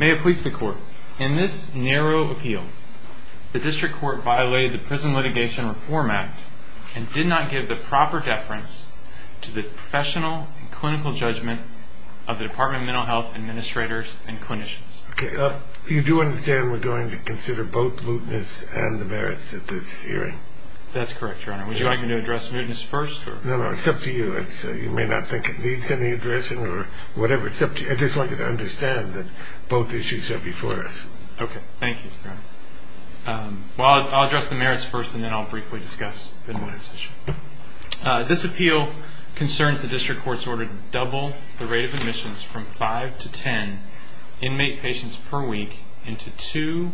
May it please the Court, in this narrow appeal, the District Court violated the Prison Litigation Reform Act and did not give the proper deference to the professional and clinical judgment of the Department of Mental Health. You do understand we're going to consider both mootness and the merits of this hearing? That's correct, Your Honor. Would you like me to address mootness first? No, no. It's up to you. You may not think it needs any addressing or whatever. It's up to you. I just want you to understand that both issues are before us. Okay. Thank you, Your Honor. Well, I'll address the merits first and then I'll briefly discuss the mootness issue. This appeal concerns the District Court's order to double the rate of admissions from five to ten inmate patients per week into two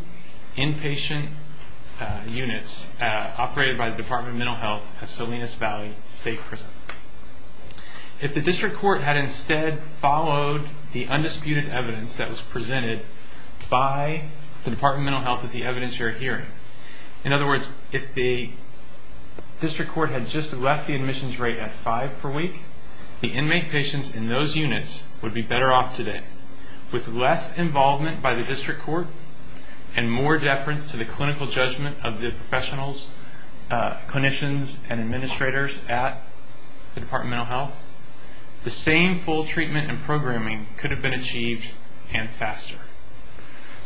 inpatient units operated by the Department of Mental Health at Salinas Valley State Prison. If the District Court had instead followed the undisputed evidence that was presented by the Department of Mental Health at the evidence you're hearing, in other words, if the District Court had just left the admissions rate at five per week, the inmate patients in those units would be better off today. With less involvement by the District Court and more deference to the clinical judgment of the professionals, clinicians, and administrators at the Department of Mental Health, the same full treatment and programming could have been achieved and faster.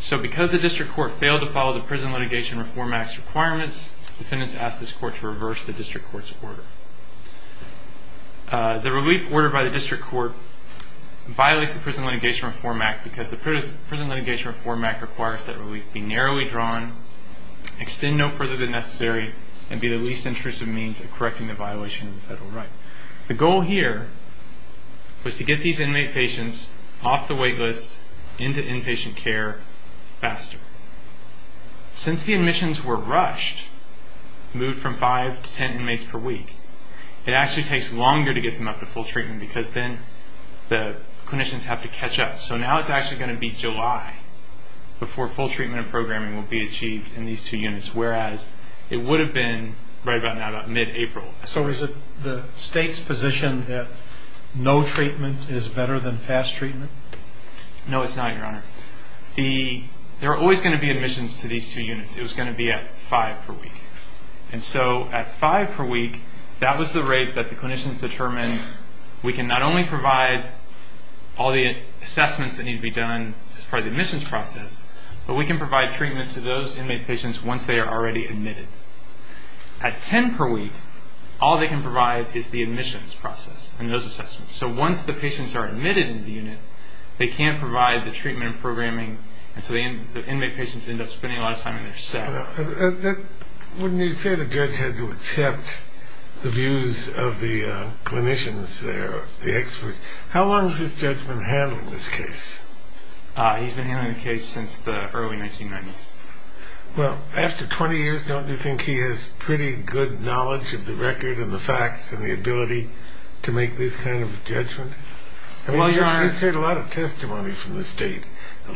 So because the District Court failed to follow the Prison Litigation Reform Act's requirements, defendants asked this Court to reverse the District Court's order. The relief order by the District Court violates the Prison Litigation Reform Act because the Prison Litigation Reform Act requires that relief be narrowly drawn, extend no further than necessary, and be the least intrusive means of correcting the violation of the federal right. The goal here was to get these inmate patients off the wait list into inpatient care faster. Since the admissions were rushed, moved from five to ten inmates per week, it actually takes longer to get them up to full treatment because then the clinicians have to catch up. So now it's actually going to be July before full treatment and programming will be achieved in these two units, whereas it would have been right about now, about mid-April. So is it the State's position that no treatment is better than fast treatment? No, it's not, Your Honor. There are always going to be admissions to these two units. It was going to be at five per week. And so at five per week, that was the rate that the clinicians determined we can not only provide all the assessments that need to be done as part of the admissions process, but we can provide treatment to those inmate patients once they are already admitted. At ten per week, all they can provide is the admissions process and those assessments. So once the patients are admitted into the unit, they can't provide the treatment and programming, and so the inmate patients end up spending a lot of time in their cell. Wouldn't you say the judge had to accept the views of the clinicians there, the experts? How long has this judge been handling this case? He's been handling the case since the early 1990s. Well, after 20 years, don't you think he has pretty good knowledge of the record and the facts and the ability to make this kind of judgment? He's heard a lot of testimony from the State,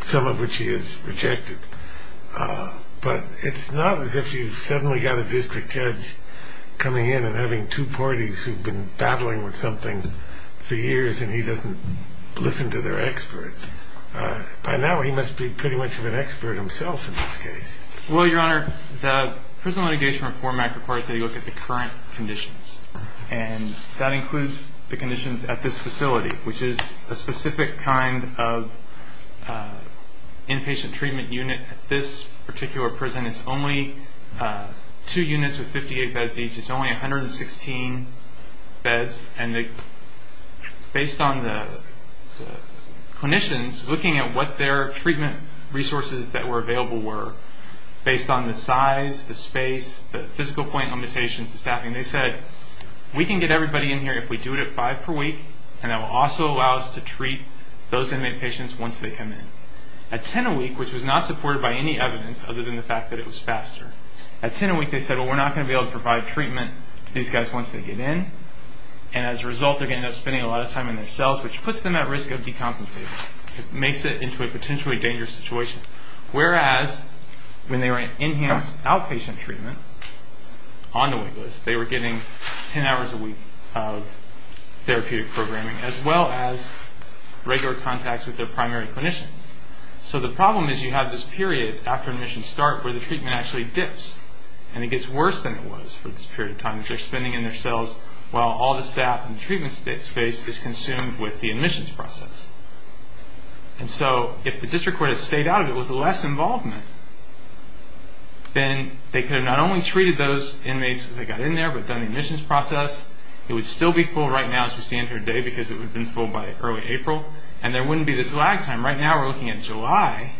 some of which he has rejected. But it's not as if you've suddenly got a district judge coming in and having two parties who've been battling with something for years and he doesn't listen to their experts. By now, he must be pretty much of an expert himself in this case. Well, Your Honor, the prison litigation reform act requires that you look at the current conditions, and that includes the conditions at this facility, which is a specific kind of inpatient treatment unit. At this particular prison, it's only two units with 58 beds each. It's only 116 beds. And based on the clinicians looking at what their treatment resources that were available were, based on the size, the space, the physical point limitations, the staffing, they said, we can get everybody in here if we do it at five per week, and that will also allow us to treat those inmate patients once they come in. At 10 a week, which was not supported by any evidence other than the fact that it was faster, at 10 a week they said, well, we're not going to be able to provide treatment to these guys once they get in, and as a result they're going to end up spending a lot of time in their cells, which puts them at risk of decompensating. It makes it into a potentially dangerous situation. Whereas when they were in enhanced outpatient treatment on the wait list, they were getting 10 hours a week of therapeutic programming, as well as regular contacts with their primary clinicians. So the problem is you have this period after admissions start where the treatment actually dips, and it gets worse than it was for this period of time. They're spending it in their cells while all the staff in the treatment space is consumed with the admissions process. And so if the district court had stayed out of it with less involvement, then they could have not only treated those inmates when they got in there but done the admissions process. It would still be full right now as we stand here today because it would have been full by early April, and there wouldn't be this lag time. Right now we're looking at July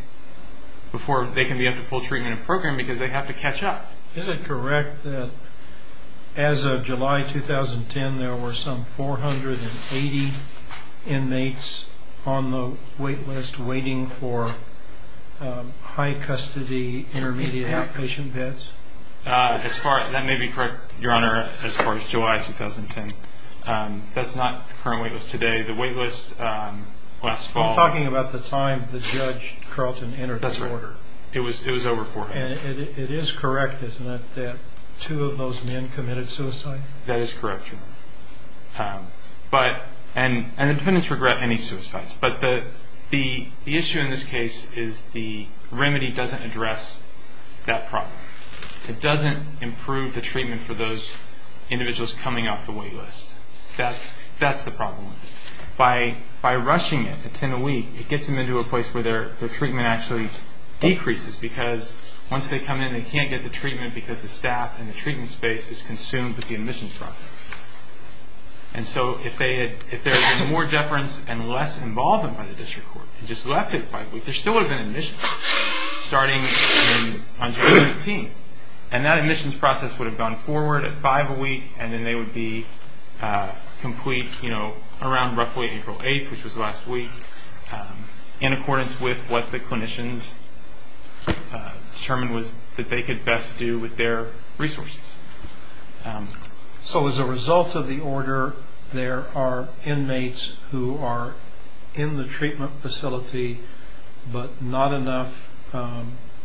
before they can be up to full treatment and programming because they have to catch up. Is it correct that as of July 2010 there were some 480 inmates on the wait list waiting for high custody intermediate outpatient beds? That may be correct, Your Honor, as far as July 2010. That's not the current wait list today. The wait list last fall- You're talking about the time the judge, Carlton, entered the order. That's right. It was over 480. And it is correct, isn't it, that two of those men committed suicide? That is correct, Your Honor. And the defendants regret any suicides. But the issue in this case is the remedy doesn't address that problem. It doesn't improve the treatment for those individuals coming off the wait list. That's the problem with it. By rushing it at 10 a week, it gets them into a place where their treatment actually decreases because once they come in, they can't get the treatment because the staff in the treatment space is consumed with the admissions process. And so if there had been more deference and less involvement by the district court and just left it at 5 a week, there still would have been admissions starting on July 15th. And that admissions process would have gone forward at 5 a week, and then they would be complete around roughly April 8th, which was last week, in accordance with what the clinicians determined that they could best do with their resources. So as a result of the order, there are inmates who are in the treatment facility but not enough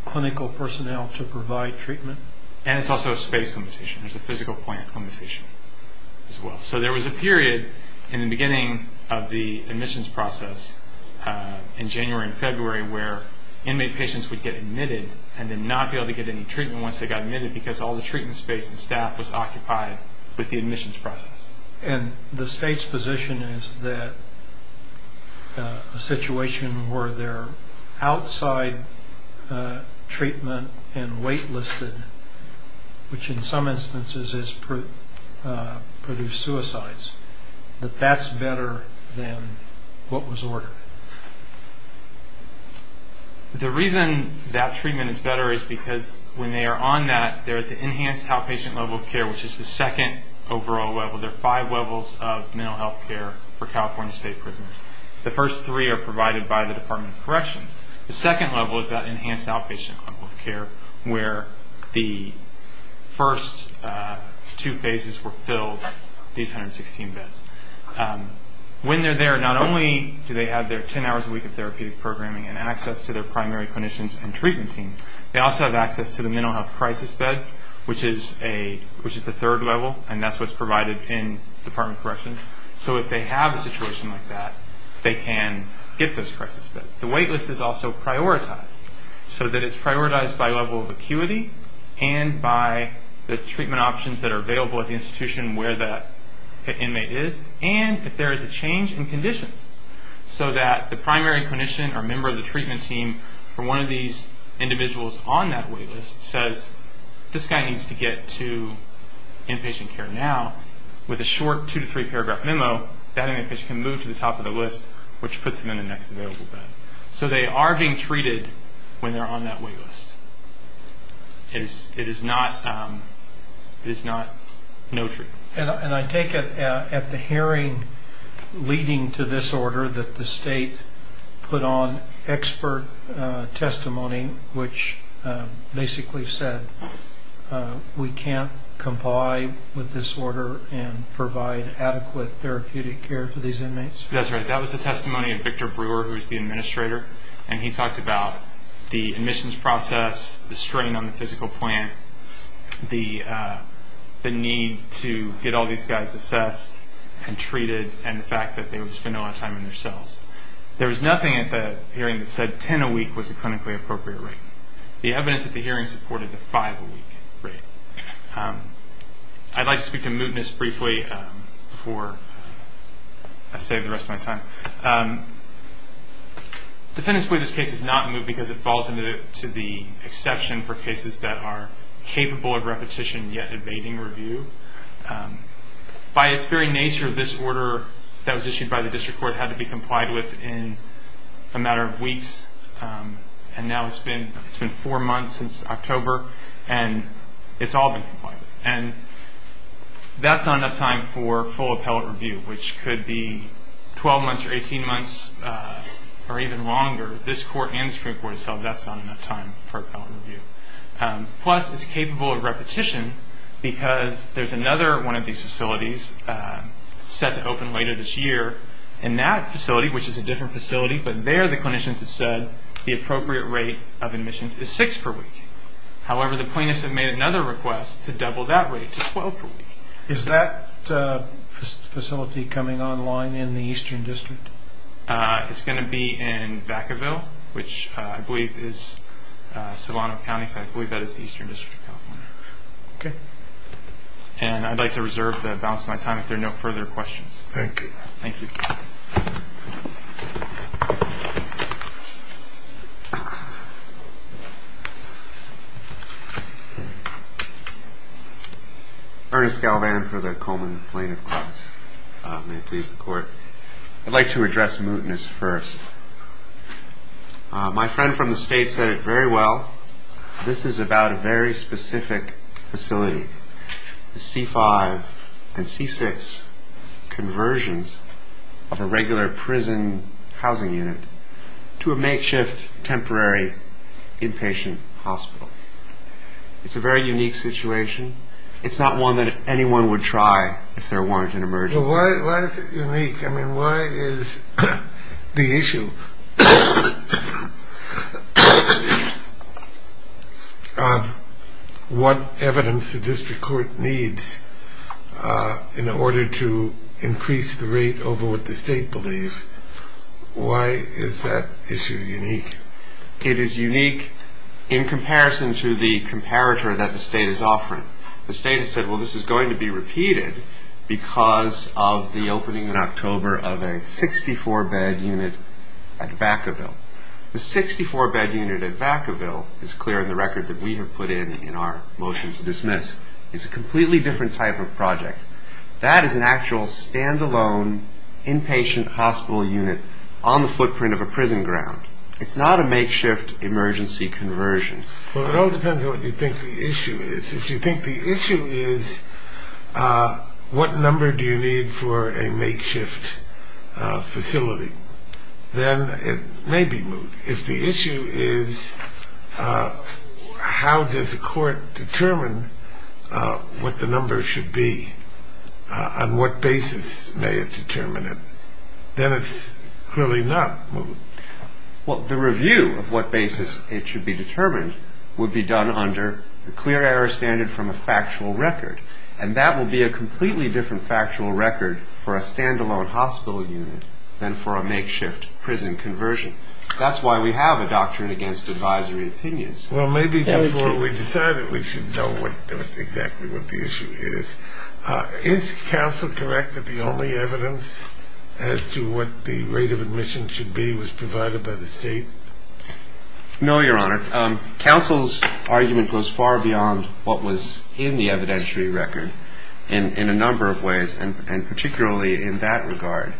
clinical personnel to provide treatment? And it's also a space limitation. There's a physical plant limitation as well. So there was a period in the beginning of the admissions process in January and February where inmate patients would get admitted and then not be able to get any treatment once they got admitted because all the treatment space and staff was occupied with the admissions process. And the state's position is that a situation where they're outside treatment and wait-listed, which in some instances has produced suicides, that that's better than what was ordered? The reason that treatment is better is because when they are on that, they're at the enhanced outpatient level of care, which is the second overall level. There are five levels of mental health care for California state prisoners. The first three are provided by the Department of Corrections. The second level is that enhanced outpatient level of care where the first two phases were filled, these 116 beds. When they're there, not only do they have their 10 hours a week of therapeutic programming and access to their primary clinicians and treatment teams, they also have access to the mental health crisis beds, which is the third level, and that's what's provided in Department of Corrections. So if they have a situation like that, they can get those crisis beds. The wait list is also prioritized so that it's prioritized by level of acuity and by the treatment options that are available at the institution where the inmate is and if there is a change in conditions so that the primary clinician or member of the treatment team or one of these individuals on that wait list says, this guy needs to get to inpatient care now, with a short two- to three-paragraph memo, that inpatient can move to the top of the list, which puts them in the next available bed. So they are being treated when they're on that wait list. It is not no treat. And I take it at the hearing leading to this order that the state put on expert testimony, which basically said we can't comply with this order and provide adequate therapeutic care for these inmates? That's right. That was the testimony of Victor Brewer, who is the administrator, and he talked about the admissions process, the strain on the physical plant, the need to get all these guys assessed and treated, and the fact that they would spend a lot of time in their cells. There was nothing at the hearing that said 10 a week was a clinically appropriate rate. The evidence at the hearing supported a five-a-week rate. I'd like to speak to mootness briefly before I save the rest of my time. Defendants believe this case is not moot because it falls into the exception for cases that are capable of repetition yet evading review. By its very nature, this order that was issued by the district court had to be complied with in a matter of weeks, and now it's been four months since October, and it's all been complied with. That's not enough time for full appellate review, which could be 12 months or 18 months or even longer. This court and the Supreme Court have said that's not enough time for appellate review. Plus, it's capable of repetition because there's another one of these facilities set to open later this year. In that facility, which is a different facility, but there the clinicians have said the appropriate rate of admissions is six per week. However, the plaintiffs have made another request to double that rate to 12 per week. Is that facility coming online in the Eastern District? It's going to be in Vacaville, which I believe is Solano County, so I believe that is the Eastern District of California. Okay. And I'd like to reserve the balance of my time if there are no further questions. Thank you. Thank you. Ernest Galvan for the Coleman Plaintiff Clause. May it please the Court. I'd like to address mootness first. My friend from the States said it very well. This is about a very specific facility, the C-5 and C-6 conversions of a regular prison housing unit to a makeshift temporary inpatient hospital. It's a very unique situation. It's not one that anyone would try if there weren't an emergency. Why is it unique? I mean, why is the issue of what evidence the District Court needs in order to increase the rate over what the State believes, why is that issue unique? It is unique in comparison to the comparator that the State is offering. The State has said, well, this is going to be repeated because of the opening in October of a 64-bed unit at Vacaville. The 64-bed unit at Vacaville is clear in the record that we have put in in our motion to dismiss. It's a completely different type of project. That is an actual standalone inpatient hospital unit on the footprint of a prison ground. It's not a makeshift emergency conversion. Well, it all depends on what you think the issue is. If you think the issue is what number do you need for a makeshift facility, then it may be moot. If the issue is how does a court determine what the number should be, on what basis may it determine it, then it's clearly not moot. Well, the review of what basis it should be determined would be done under the clear error standard from a factual record, and that will be a completely different factual record for a standalone hospital unit than for a makeshift prison conversion. That's why we have a doctrine against advisory opinions. Well, maybe before we decide it, we should know exactly what the issue is. Is counsel correct that the only evidence as to what the rate of admission should be was provided by the state? No, Your Honor. Counsel's argument goes far beyond what was in the evidentiary record in a number of ways, and particularly in that regard.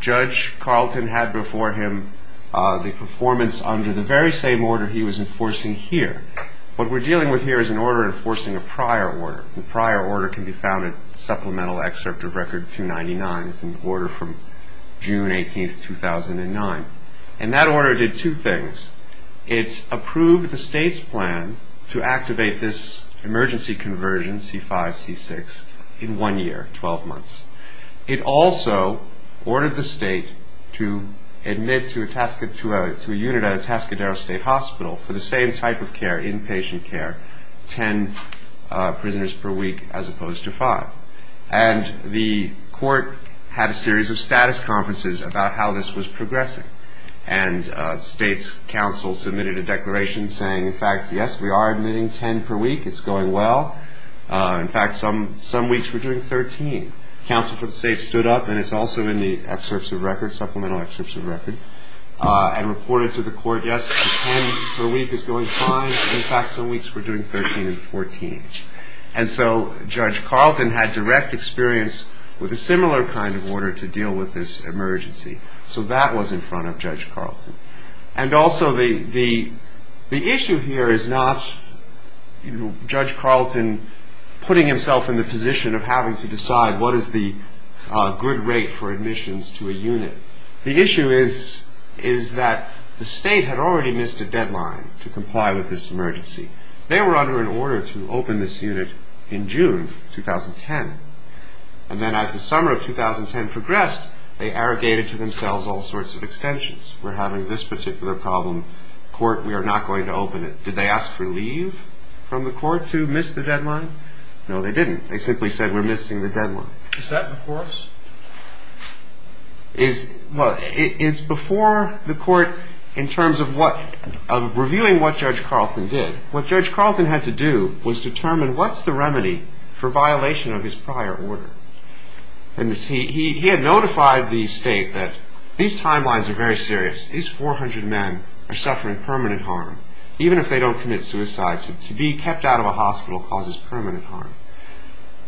Judge Carlton had before him the performance under the very same order he was enforcing here. What we're dealing with here is an order enforcing a prior order. The prior order can be found in Supplemental Excerpt of Record 299. It's an order from June 18, 2009. And that order did two things. It approved the state's plan to activate this emergency conversion, C-5, C-6, in one year, 12 months. It also ordered the state to admit to a unit at Atascadero State Hospital for the same type of care, inpatient care, 10 prisoners per week as opposed to five. And the court had a series of status conferences about how this was progressing. And the state's counsel submitted a declaration saying, in fact, yes, we are admitting 10 per week. It's going well. In fact, some weeks we're doing 13. Counsel for the state stood up, and it's also in the Excerpts of Record, Supplemental Excerpts of Record, and reported to the court, yes, 10 per week is going fine. In fact, some weeks we're doing 13 and 14. And so Judge Carlton had direct experience with a similar kind of order to deal with this emergency. So that was in front of Judge Carlton. And also the issue here is not Judge Carlton putting himself in the position of having to decide what is the good rate for admissions to a unit. The issue is that the state had already missed a deadline to comply with this emergency. They were under an order to open this unit in June 2010. And then as the summer of 2010 progressed, they arrogated to themselves all sorts of extensions. We're having this particular problem. Court, we are not going to open it. Did they ask for leave from the court to miss the deadline? No, they didn't. They simply said we're missing the deadline. Is that before us? Well, it's before the court in terms of what of reviewing what Judge Carlton did. What Judge Carlton had to do was determine what's the remedy for violation of his prior order. And he had notified the state that these timelines are very serious. These 400 men are suffering permanent harm. Even if they don't commit suicide, to be kept out of a hospital causes permanent harm.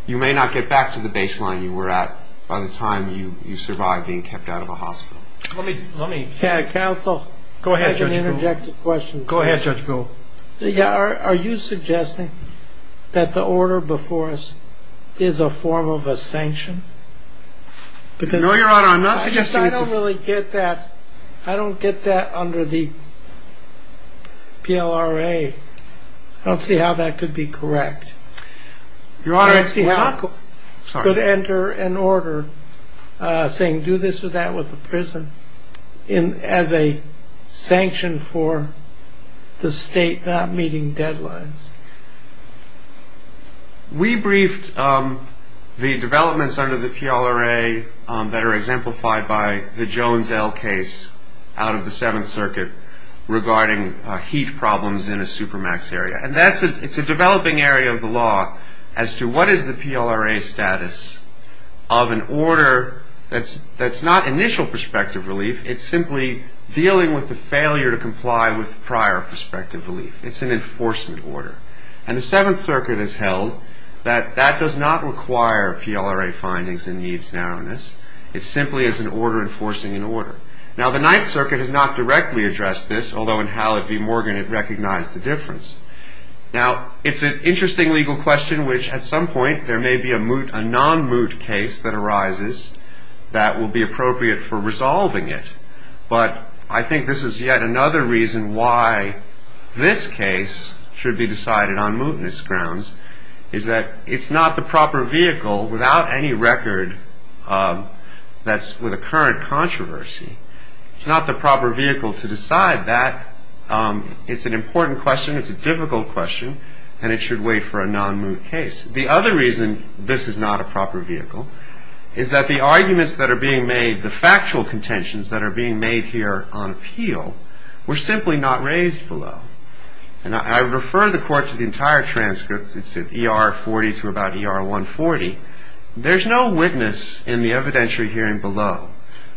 You may not get back to the baseline you were at by the time you survive being kept out of a hospital. Counsel, I have an interjected question. Go ahead, Judge Gould. Are you suggesting that the order before us is a form of a sanction? No, Your Honor, I'm not suggesting. I don't really get that. I don't get that under the PLRA. I don't see how that could be correct. Your Honor, I see how it could enter an order saying do this or that with the prison as a sanction for the state not meeting deadlines. We briefed the developments under the PLRA that are exemplified by the Jones L case out of the Seventh Circuit regarding heat problems in a supermax area. And it's a developing area of the law as to what is the PLRA status of an order that's not initial prospective relief. It's simply dealing with the failure to comply with prior prospective relief. It's an enforcement order. And the Seventh Circuit has held that that does not require PLRA findings in needs narrowness. Now, the Ninth Circuit has not directly addressed this, although in Hallett v. Morgan it recognized the difference. Now, it's an interesting legal question, which at some point there may be a non-moot case that arises that will be appropriate for resolving it. But I think this is yet another reason why this case should be decided on mootness grounds, is that it's not the proper vehicle without any record that's with a current controversy. It's not the proper vehicle to decide that. It's an important question. It's a difficult question. And it should wait for a non-moot case. The other reason this is not a proper vehicle is that the arguments that are being made, the factual contentions that are being made here on appeal, were simply not raised below. And I refer the Court to the entire transcript. It's at ER 40 to about ER 140. There's no witness in the evidentiary hearing below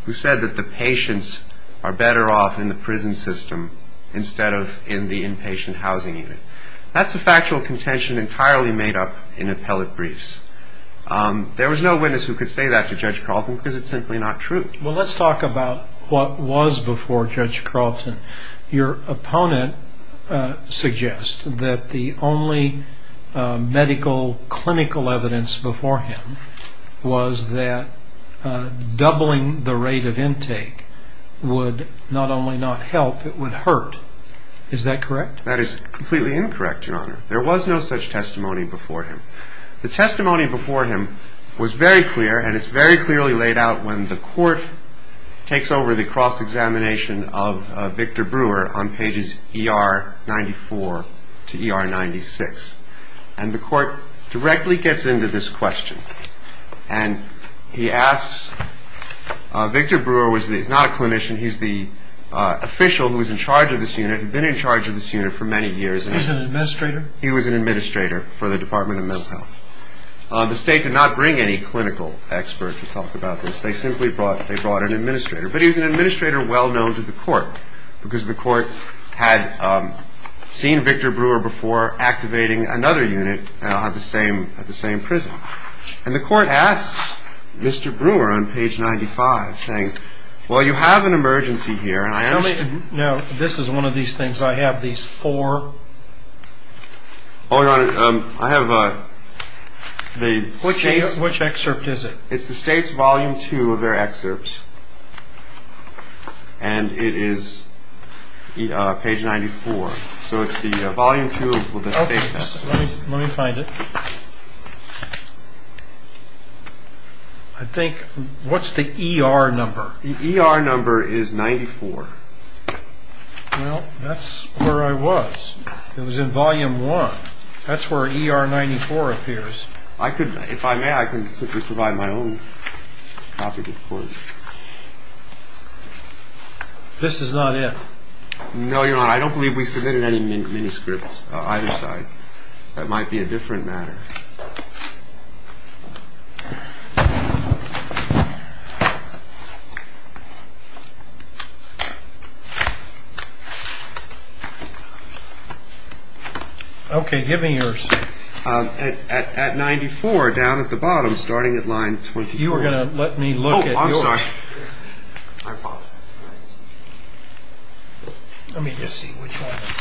who said that the patients are better off in the prison system instead of in the inpatient housing unit. That's a factual contention entirely made up in appellate briefs. There was no witness who could say that to Judge Carlton because it's simply not true. Well, let's talk about what was before Judge Carlton. Your opponent suggests that the only medical, clinical evidence before him was that doubling the rate of intake would not only not help, it would hurt. Is that correct? That is completely incorrect, Your Honor. There was no such testimony before him. The testimony before him was very clear, and it's very clearly laid out when the Court takes over the cross-examination of Victor Brewer on pages ER 94 to ER 96. And the Court directly gets into this question. And he asks, Victor Brewer is not a clinician. He's the official who is in charge of this unit, been in charge of this unit for many years. He's an administrator? He was an administrator for the Department of Mental Health. The State did not bring any clinical experts to talk about this. They simply brought an administrator. But he was an administrator well known to the Court because the Court had seen Victor Brewer before activating another unit at the same prison. And the Court asks Mr. Brewer on page 95, saying, well, you have an emergency here. Now, this is one of these things. I have these four. Oh, Your Honor, I have the State's. Which excerpt is it? It's the State's volume two of their excerpts. And it is page 94. So it's the volume two of the State's. Let me find it. I think, what's the ER number? The ER number is 94. Well, that's where I was. It was in volume one. That's where ER 94 appears. If I may, I can simply provide my own copy to the Court. This is not it. No, Your Honor, I don't believe we submitted any manuscripts either side. That might be a different matter. Okay, give me yours. Okay. At 94, down at the bottom, starting at line 24. You were going to let me look at yours. Oh, I'm sorry. Let me just see which one this is.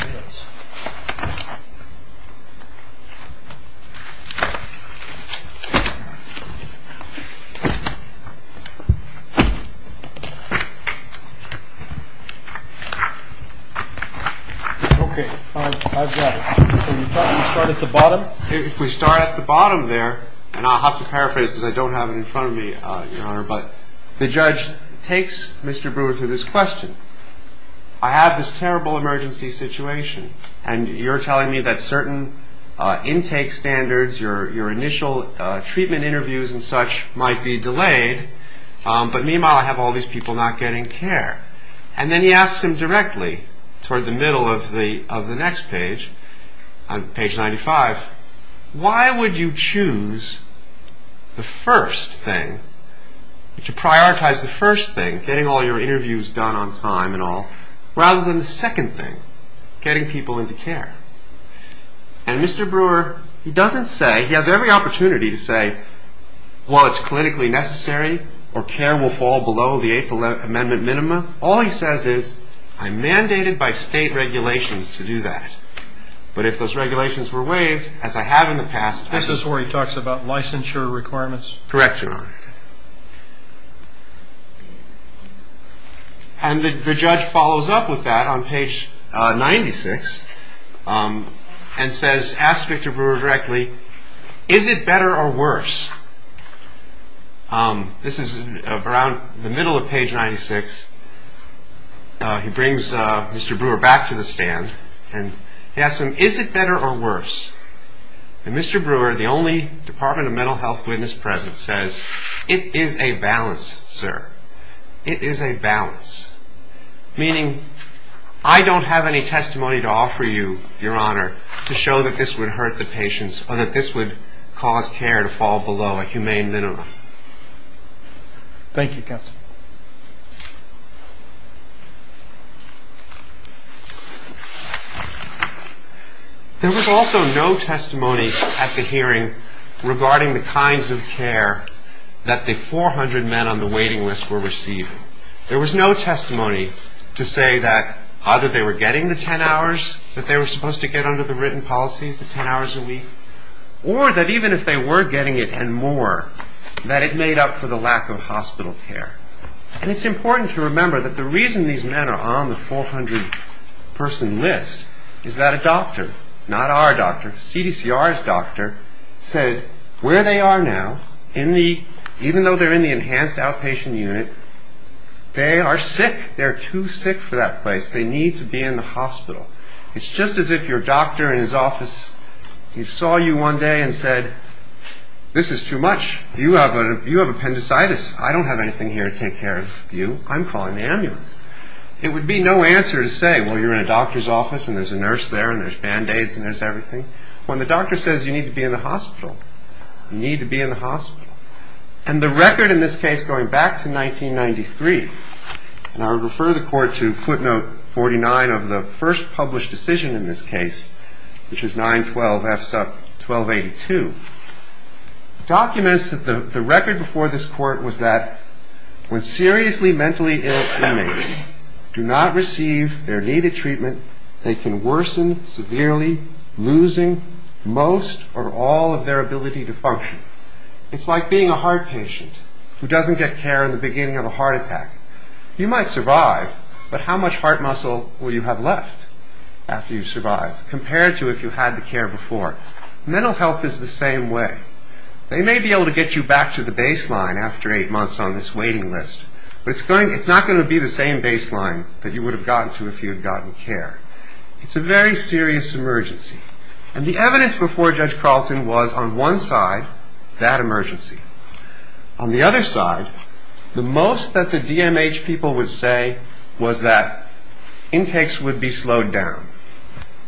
Okay, I've got it. And you thought you would start at the bottom? If we start at the bottom there, and I'll have to paraphrase because I don't have it in front of me, Your Honor, but the judge takes Mr. Brewer to this question. I have this terrible emergency situation, and you're telling me that certain intake standards, your initial treatment interviews and such might be delayed, but meanwhile I have all these people not getting care. And then he asks him directly, toward the middle of the next page, on page 95, why would you choose the first thing, to prioritize the first thing, getting all your interviews done on time and all, rather than the second thing, getting people into care? And Mr. Brewer, he doesn't say, he has every opportunity to say, well, it's clinically necessary, or care will fall below the Eighth Amendment minima. All he says is, I'm mandated by state regulations to do that. But if those regulations were waived, as I have in the past, This is where he talks about licensure requirements? Correct, Your Honor. And the judge follows up with that on page 96 and says, asks Victor Brewer directly, is it better or worse? This is around the middle of page 96. He brings Mr. Brewer back to the stand, and he asks him, is it better or worse? And Mr. Brewer, the only Department of Mental Health witness present, says, it is a balance, sir. It is a balance. Meaning, I don't have any testimony to offer you, Your Honor, to show that this would hurt the patients or that this would cause care to fall below a humane minima. Thank you, counsel. There was also no testimony at the hearing regarding the kinds of care that the 400 men on the waiting list were receiving. There was no testimony to say that either they were getting the 10 hours that they were supposed to get under the written policies, the 10 hours a week, or that even if they were getting it and more, that it made up for the lack of hospital care. And it's important to remember that the reason these men are on the 400-person list is that a doctor, not our doctor, CDCR's doctor, said where they are now, even though they're in the enhanced outpatient unit, they are sick. They are too sick for that place. They need to be in the hospital. It's just as if your doctor in his office saw you one day and said, this is too much. You have appendicitis. I don't have anything here to take care of you. I'm calling the ambulance. It would be no answer to say, well, you're in a doctor's office and there's a nurse there and there's Band-Aids and there's everything, when the doctor says you need to be in the hospital. You need to be in the hospital. And the record in this case, going back to 1993, and I'll refer the court to footnote 49 of the first published decision in this case, which is 912F1282, documents that the record before this court was that when seriously mentally ill inmates do not receive their needed treatment, they can worsen severely, losing most or all of their ability to function. It's like being a heart patient who doesn't get care in the beginning of a heart attack. You might survive, but how much heart muscle will you have left after you survive, compared to if you had the care before? Mental health is the same way. They may be able to get you back to the baseline after eight months on this waiting list, but it's not going to be the same baseline that you would have gotten to if you had gotten care. It's a very serious emergency. And the evidence before Judge Carleton was, on one side, that emergency. On the other side, the most that the DMH people would say was that intakes would be slowed down.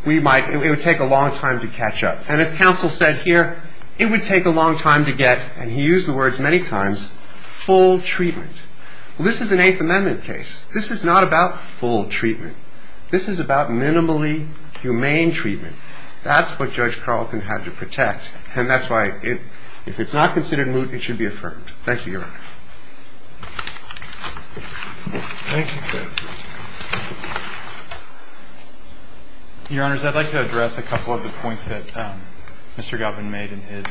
It would take a long time to catch up. And as counsel said here, it would take a long time to get, and he used the words many times, full treatment. Well, this is an Eighth Amendment case. This is not about full treatment. This is about minimally humane treatment. That's what Judge Carleton had to protect. And that's why if it's not considered moot, it should be affirmed. Thank you, Your Honor. Your Honors, I'd like to address a couple of the points that Mr. Galpin made in his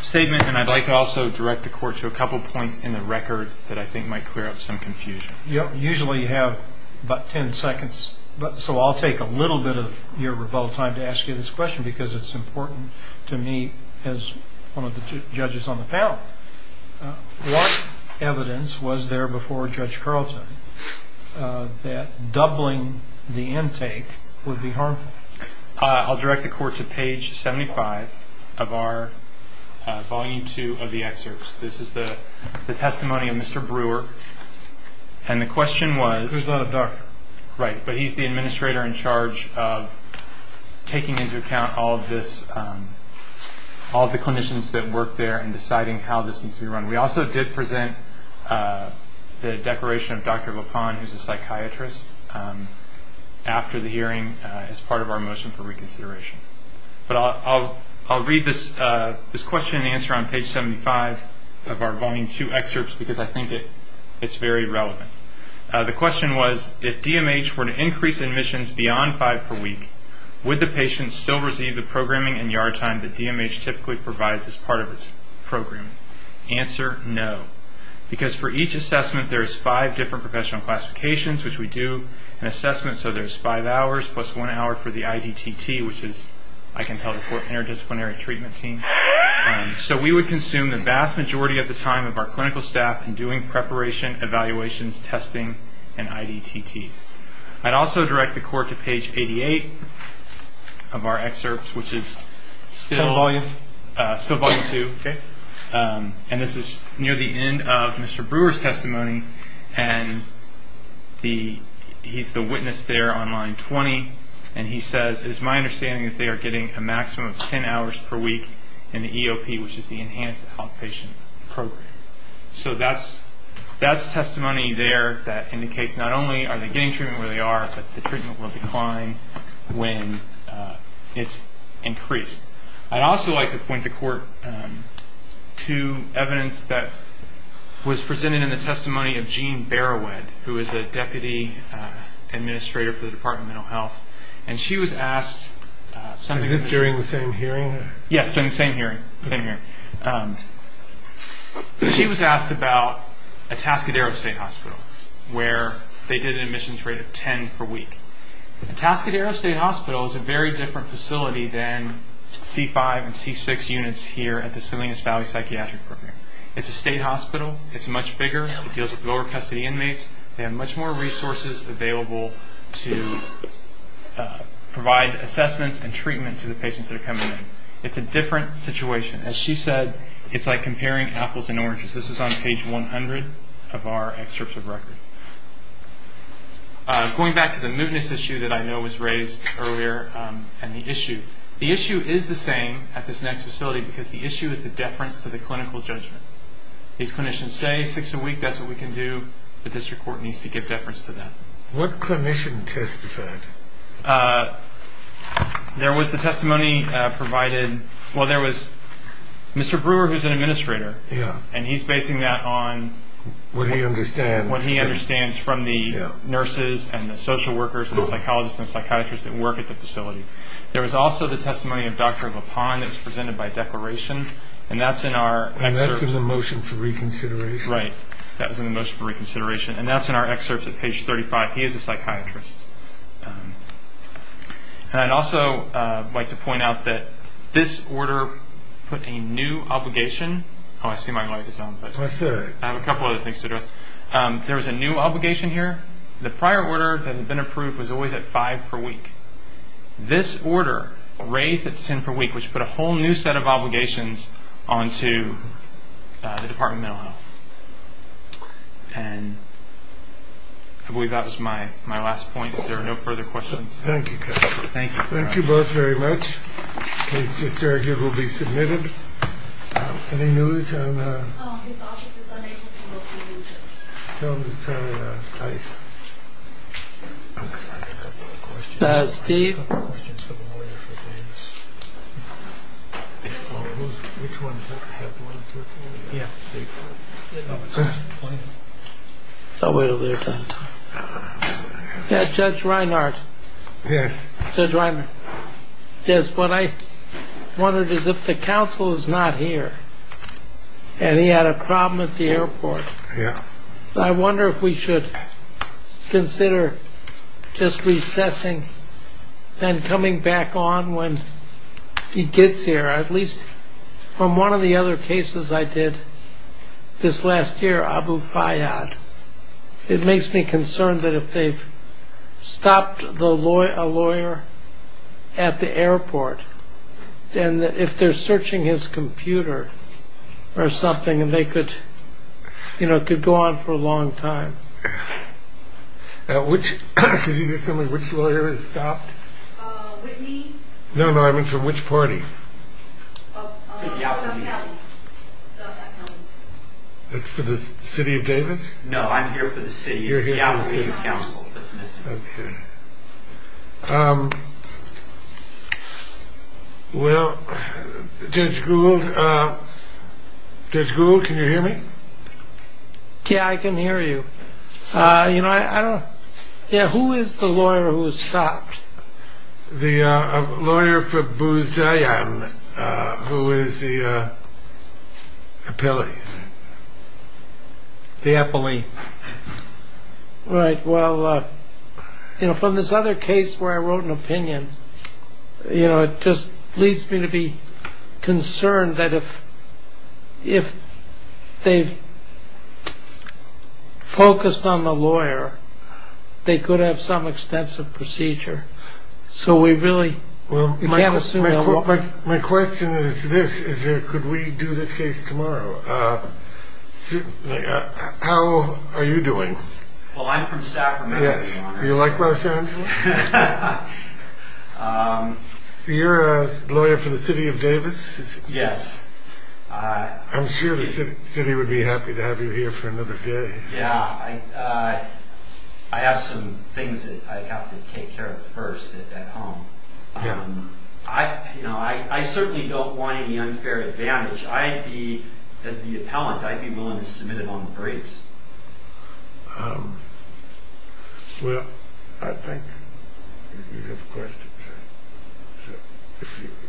statement, and I'd like to also direct the Court to a couple of points in the record that I think might clear up some confusion. You usually have about 10 seconds, so I'll take a little bit of your rebuttal time to ask you this question because it's important to me as one of the judges on the panel. What evidence was there before Judge Carleton that doubling the intake would be harmful? I'll direct the Court to page 75 of our Volume II of the excerpts. This is the testimony of Mr. Brewer, and the question was – Who's the doctor? Right, but he's the administrator in charge of taking into account all of this, all of the clinicians that work there in deciding how this needs to be run. We also did present the declaration of Dr. LaPone, who's a psychiatrist, after the hearing as part of our motion for reconsideration. But I'll read this question and answer on page 75 of our Volume II excerpts because I think it's very relevant. The question was, if DMH were to increase admissions beyond five per week, would the patient still receive the programming and yard time that DMH typically provides as part of its programming? Answer, no, because for each assessment, there's five different professional classifications, which we do an assessment, so there's five hours plus one hour for the IDTT, which is, I can tell, the Interdisciplinary Treatment Team. So we would consume the vast majority of the time of our clinical staff in doing preparation, evaluations, testing, and IDTTs. I'd also direct the court to page 88 of our excerpts, which is still Volume II, and this is near the end of Mr. Brewer's testimony, and he's the witness there on line 20, and he says, it is my understanding that they are getting a maximum of 10 hours per week in the EOP, which is the Enhanced Outpatient Program. So that's testimony there that indicates not only are they getting treatment where they are, but the treatment will decline when it's increased. I'd also like to point the court to evidence that was presented in the testimony of Jean Barrowhead, who is a Deputy Administrator for the Department of Mental Health, and she was asked... Is this during the same hearing? Yes, during the same hearing. She was asked about Atascadero State Hospital, where they did an admissions rate of 10 per week. Atascadero State Hospital is a very different facility than C5 and C6 units here at the Salinas Valley Psychiatric Program. It's a state hospital. It's much bigger. It deals with lower custody inmates. They have much more resources available to provide assessments and treatment to the patients that are coming in. It's a different situation. As she said, it's like comparing apples and oranges. This is on page 100 of our excerpt of record. Going back to the mootness issue that I know was raised earlier and the issue. The issue is the same at this next facility because the issue is the deference to the clinical judgment. These clinicians say six a week, that's what we can do. The district court needs to give deference to that. What clinician testified? There was the testimony provided. Well, there was Mr. Brewer, who's an administrator, and he's basing that on... What he understands. What he understands from the nurses and the social workers and the psychologists and the psychiatrists that work at the facility. There was also the testimony of Dr. LaPon that was presented by declaration, and that's in our excerpt. And that's in the motion for reconsideration. Right. That was in the motion for reconsideration, and that's in our excerpt at page 35. He is a psychiatrist. And I'd also like to point out that this order put a new obligation. Oh, I see my light is on. I have a couple other things to address. There was a new obligation here. The prior order that had been approved was always at five per week. This order raised it to ten per week, which put a whole new set of obligations on to the Department of Mental Health. And I believe that was my last point. If there are no further questions. Thank you, Kevin. Thank you. Thank you both very much. The case to serve here will be submitted. Any news on... His office is on 18th and 13th. Tell him to turn it on twice. Steve? I have a couple of questions for the lawyer for James. Which one? Is that the one that's with you? Yeah. I'll wait till the other time. Yeah, Judge Reinhardt. Yes. Judge Reinhardt. Yes, what I wondered is if the counsel is not here, and he had a problem at the airport. Yeah. I wonder if we should consider just recessing and coming back on when he gets here. At least from one of the other cases I did this last year, Abu Fayyad. It makes me concerned that if they've stopped a lawyer at the airport, then if they're searching his computer or something, they could go on for a long time. Which lawyer has stopped? Whitney? No, no, I mean from which party? It's for the city of Davis? No, I'm here for the city. Okay. Well, Judge Gould, Judge Gould, can you hear me? Yeah, I can hear you. You know, I don't know. Yeah, who is the lawyer who has stopped? The lawyer for Bouzayan, who is the appellee. The appellee. Right. Well, you know, from this other case where I wrote an opinion, you know, it just leads me to be concerned that if they've focused on the lawyer, they could have some extensive procedure. So we really can't assume that. My question is this. Could we do this case tomorrow? How are you doing? Well, I'm from Sacramento. Yes, do you like Los Angeles? You're a lawyer for the city of Davis? Yes. I'm sure the city would be happy to have you here for another day. Yeah, I have some things that I have to take care of first at home. You know, I certainly don't want any unfair advantage. As the appellant, I'd be willing to submit it on the briefs. Well, I think you have a question.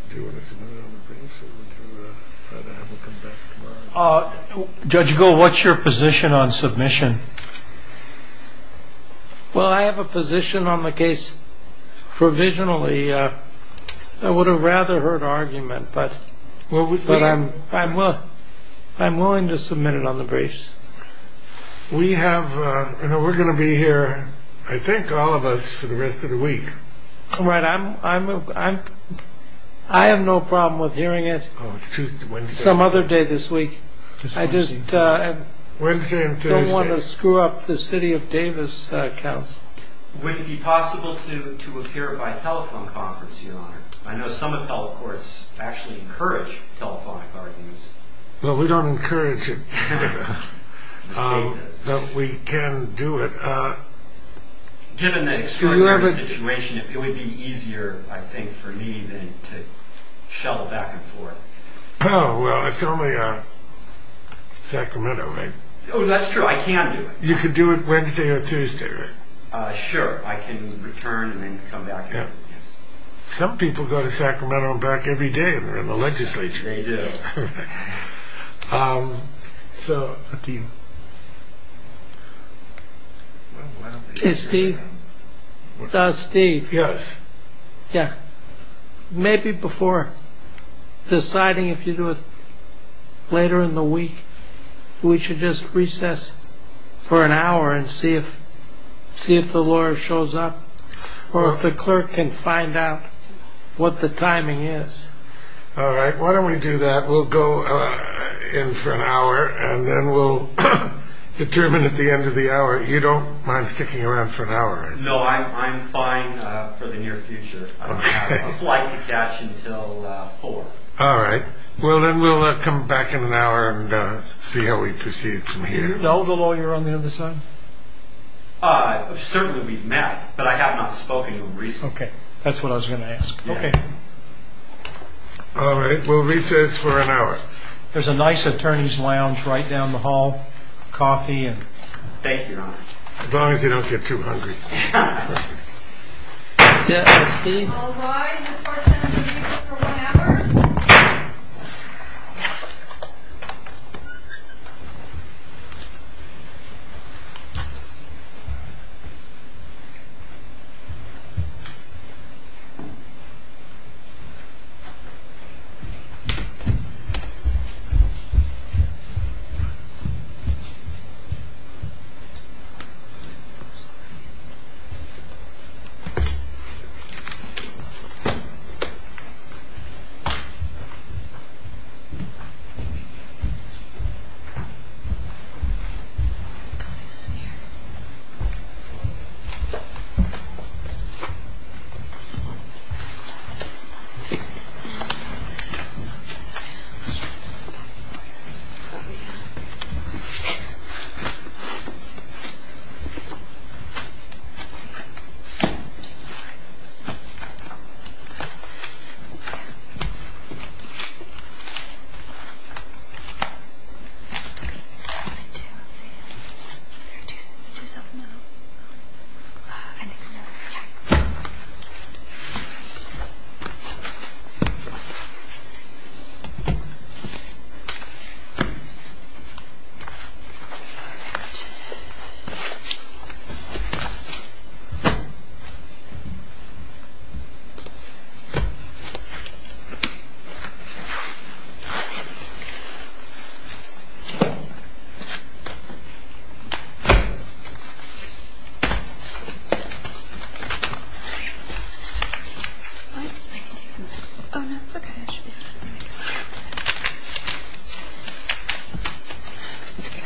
Do you want to submit it on the briefs or would you rather have it come back tomorrow? Judge Gould, what's your position on submission? Well, I have a position on the case provisionally. I would have rather heard argument, but I'm willing to submit it on the briefs. We're going to be here, I think, all of us for the rest of the week. Right. I have no problem with hearing it some other day this week. Wednesday and Thursday. I just don't want to screw up the city of Davis, counsel. Would it be possible to appear at my telephone conference, Your Honor? I know some of the health courts actually encourage telephonic arguments. Well, we don't encourage it in Canada, but we can do it. Given the extraordinary situation, it would be easier, I think, for me to shovel back and forth. Oh, well, it's only Sacramento, right? Oh, that's true. I can do it. You can do it Wednesday or Tuesday, right? Sure. I can return and then come back. Some people go to Sacramento and back every day and they're in the legislature. They do. So, Steve, Steve. Yes. Yeah. Maybe before deciding if you do it later in the week, we should just recess for an hour and see if see if the lawyer shows up or if the clerk can find out what the timing is. All right. Why don't we do that? We'll go in for an hour and then we'll determine at the end of the hour. You don't mind sticking around for an hour? No, I'm fine for the near future. I have a flight to catch until four. All right. Well, then we'll come back in an hour and see how we proceed from here. Do you know the lawyer on the other side? Certainly we've met, but I have not spoken to him recently. Okay. That's what I was going to ask. Okay. All right. We'll recess for an hour. There's a nice attorney's lounge right down the hall. Thank you, Your Honor. As long as you don't get too hungry. That's it. That's Steve. All rise. This court is going to recess for one hour. What's going on here? This is all messed up. This is all messed up. Let's try to fix that. Oh, yeah. Okay. Okay. I want to do this. Do you want to do something else? I think so. Yeah. All right. All right. All right. All right. All right. All right. All right. That's what you're getting, Steve. Yeah. On the way out on the court. Yeah. Stop this.